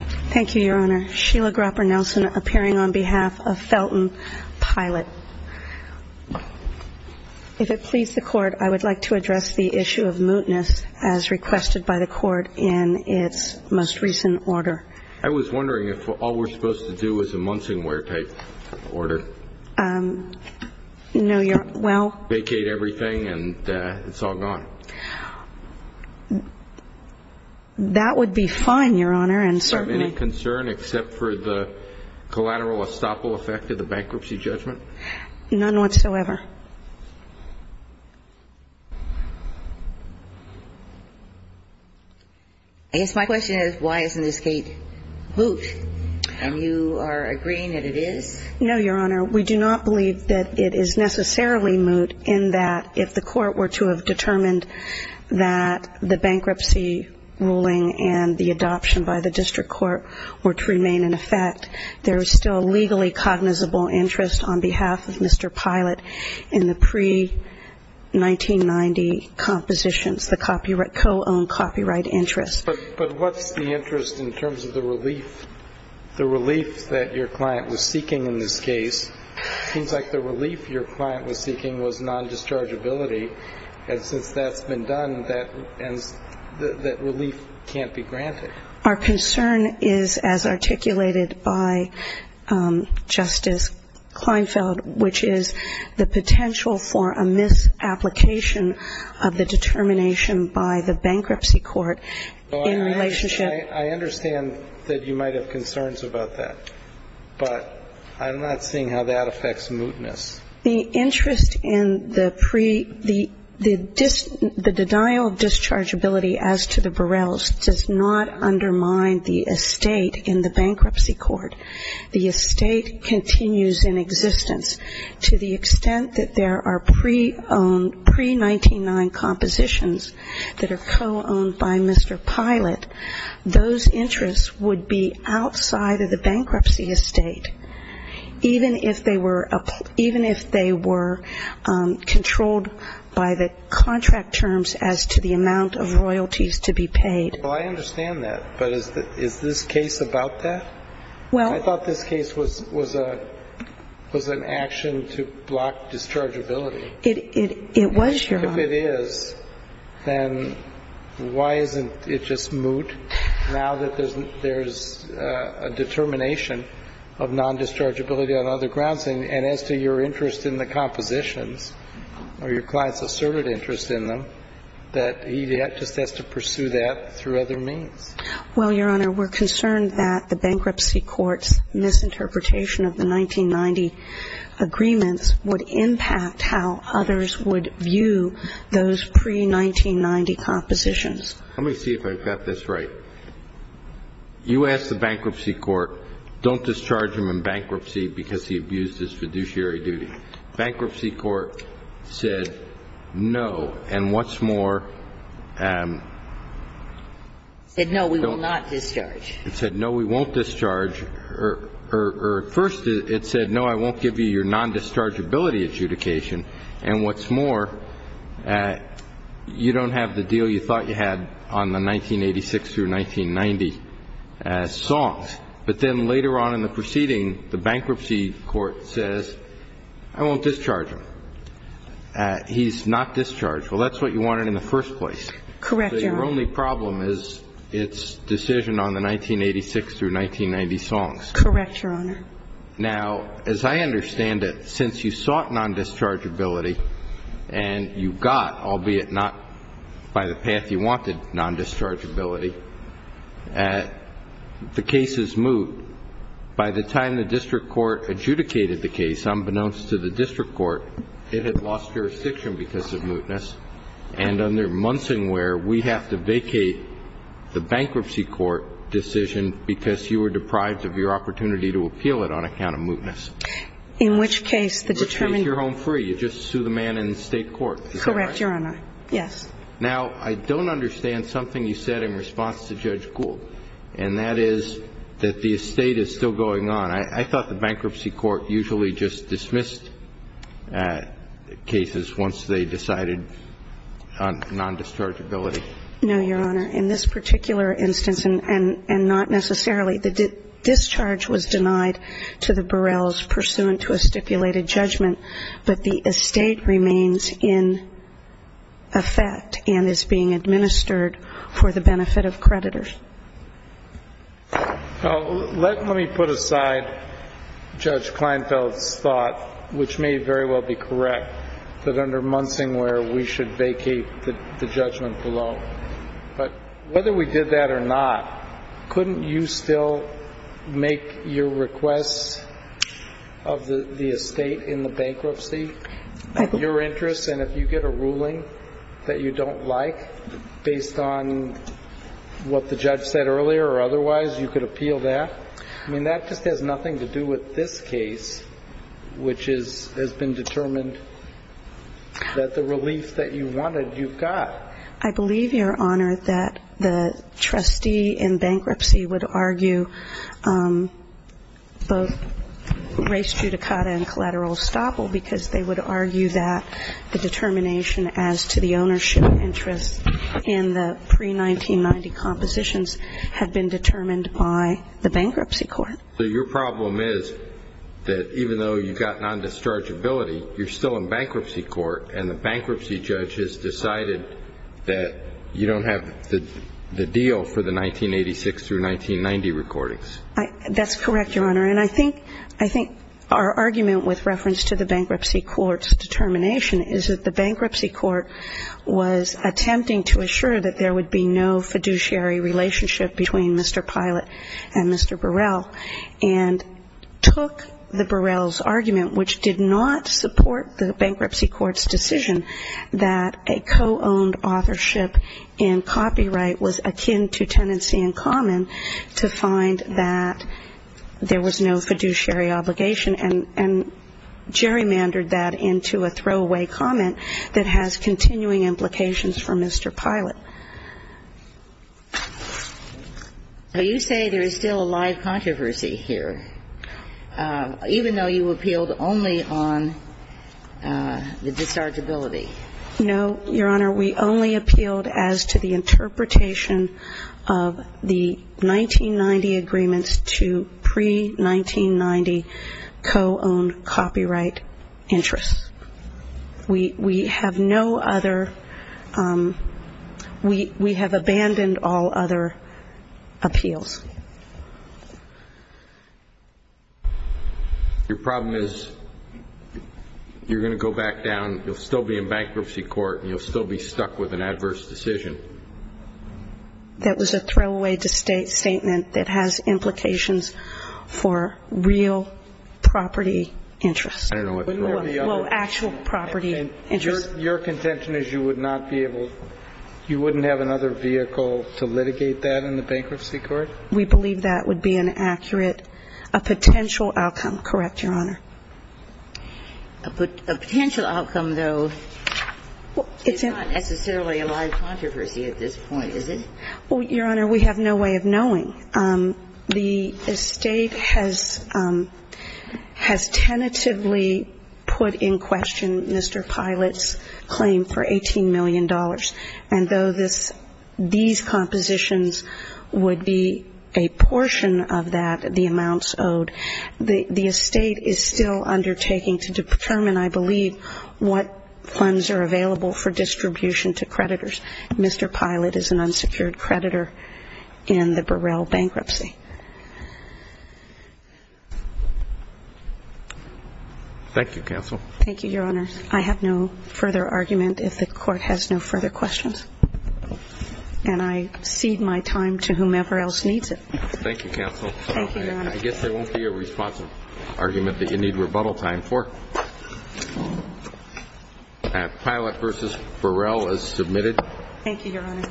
Thank you, Your Honor. Sheila Grapper Nelson appearing on behalf of Felton Pilot. If it please the Court, I would like to address the issue of mootness as requested by the Court in its most recent order. I was wondering if all we're supposed to do is a Munsingwear type order. No, Your Honor. Well... Vacate everything and it's all gone. That would be fine, Your Honor. Do you have any concern except for the collateral estoppel effect of the bankruptcy judgment? None whatsoever. I guess my question is, why isn't this gate moot? And you are agreeing that it is? No, Your Honor. We do not believe that it is necessarily moot in that if the Court were to determine that the bankruptcy ruling and the adoption by the District Court were to remain in effect, there is still a legally cognizable interest on behalf of Mr. Pilot in the pre-1990 compositions, the co-owned copyright interest. But what's the interest in terms of the relief? The relief that your client was seeking in this since that's been done, that relief can't be granted. Our concern is as articulated by Justice Kleinfeld, which is the potential for a misapplication of the determination by the bankruptcy court in relationship... I understand that you might have concerns about that, but I'm not seeing how that affects mootness. The interest in the pre- the denial of dischargeability as to the Burrells does not undermine the estate in the bankruptcy court. The estate continues in existence to the extent that there are pre-owned, pre-199 compositions that are co-owned by Mr. Pilot. Those interests would be outside of the bankruptcy estate, even if they were controlled by the contract terms as to the amount of royalties to be paid. Well, I understand that, but is this case about that? I thought this case was an action to block dischargeability. It was, Your Honor. If it is, then why isn't it just moot now that there's a determination of non-dischargeability on other grounds, and as to your interest in the compositions, or your client's asserted interest in them, that he just has to pursue that through other means? Well, Your Honor, we're concerned that the bankruptcy court's misinterpretation of the those pre-1990 compositions. Let me see if I've got this right. You asked the bankruptcy court, don't discharge him in bankruptcy because he abused his fiduciary duty. Bankruptcy court said, no, and what's more? Said, no, we will not discharge. It said, no, we won't discharge, or first it said, no, I won't give you your non-dischargeability adjudication, and what's more, you don't have the deal you thought you had on the 1986 through 1990 songs, but then later on in the proceeding, the bankruptcy court says, I won't discharge him. He's not discharged. Well, that's what you wanted in the first place. Correct, Your Honor. So your only problem is its decision on the 1986 through 1990 songs. Correct, Your Honor. Now, as I understand it, since you sought non-dischargeability and you got, albeit not by the path you wanted, non-dischargeability, the case is moot. By the time the district court adjudicated the case, unbeknownst to the district court, it had lost jurisdiction because of mootness, and under Munson where we have to vacate the bankruptcy court decision because you were deprived of your opportunity to appeal it on account of mootness. In which case, the determinant. Which means you're home free. You just sue the man in the state court. Correct, Your Honor. Yes. Now, I don't understand something you said in response to Judge Gould, and that is that the estate is still going on. I thought the bankruptcy court usually just dismissed cases once they decided non-dischargeability. No, Your Honor. In this particular instance, and not necessarily, the discharge was denied to the Burrells pursuant to a stipulated judgment, but the estate remains in effect and is being administered for the benefit of creditors. Now, let me put aside Judge Kleinfeld's thought, which may very well be correct, that under Munson where we should vacate the judgment below. But whether we did that or not, couldn't you still make your requests of the estate in the bankruptcy your interest? And if you get a ruling that you don't like based on what the judge said earlier or otherwise, you could appeal that. I mean, that just has nothing to do with this case, which has been determined that the relief that you wanted, you've got. I believe, Your Honor, that the trustee in bankruptcy would argue both race judicata and collateral estoppel because they would argue that the determination as to the Your problem is that even though you've got non-dischargeability, you're still in bankruptcy court and the bankruptcy judge has decided that you don't have the deal for the 1986 through 1990 recordings. That's correct, Your Honor. And I think our argument with reference to the bankruptcy court's determination is that the bankruptcy court was attempting to assure that there would be no fiduciary relationship between Mr. Pilot and Mr. Burrell and took the Burrell's argument, which did not support the bankruptcy court's decision that a co-owned authorship in copyright was akin to tenancy in common to find that there was no fiduciary obligation and gerrymandered that into a throwaway comment that has continuing implications for Mr. Pilot. So you say there is still a live controversy here, even though you appealed only on the dischargeability? No, Your Honor. We only appealed as to the interpretation of the 1990 agreements to pre-1990 co-owned copyright interests. We have no other, we have abandoned all other appeals. Your problem is you're going to go back down, you'll still be in bankruptcy court, and you'll still be stuck with an adverse decision. That was a throwaway statement that has implications for real property interests. Well, actual property interests. Your contention is you would not be able, you wouldn't have another vehicle to litigate that in the bankruptcy court? We believe that would be an accurate, a potential outcome, correct, Your Honor? A potential outcome, though, is not necessarily a live controversy at this point, is it? The estate has tentatively put in question Mr. Pilot's claim for $18 million, and though these compositions would be a portion of that, the amounts owed, the estate is still undertaking to determine, I believe, what funds are available for distribution to creditors. Mr. Pilot is an unsecured creditor in the Burrell bankruptcy. Thank you, counsel. Thank you, Your Honor. I have no further argument if the court has no further questions, and I cede my time to whomever else needs it. Thank you, counsel. I guess there won't be a responsive argument that you need rebuttal time for. Thank you, counsel. Pilot v. Burrell is submitted. Thank you, Your Honor.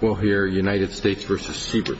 We'll hear United States v. Siebert.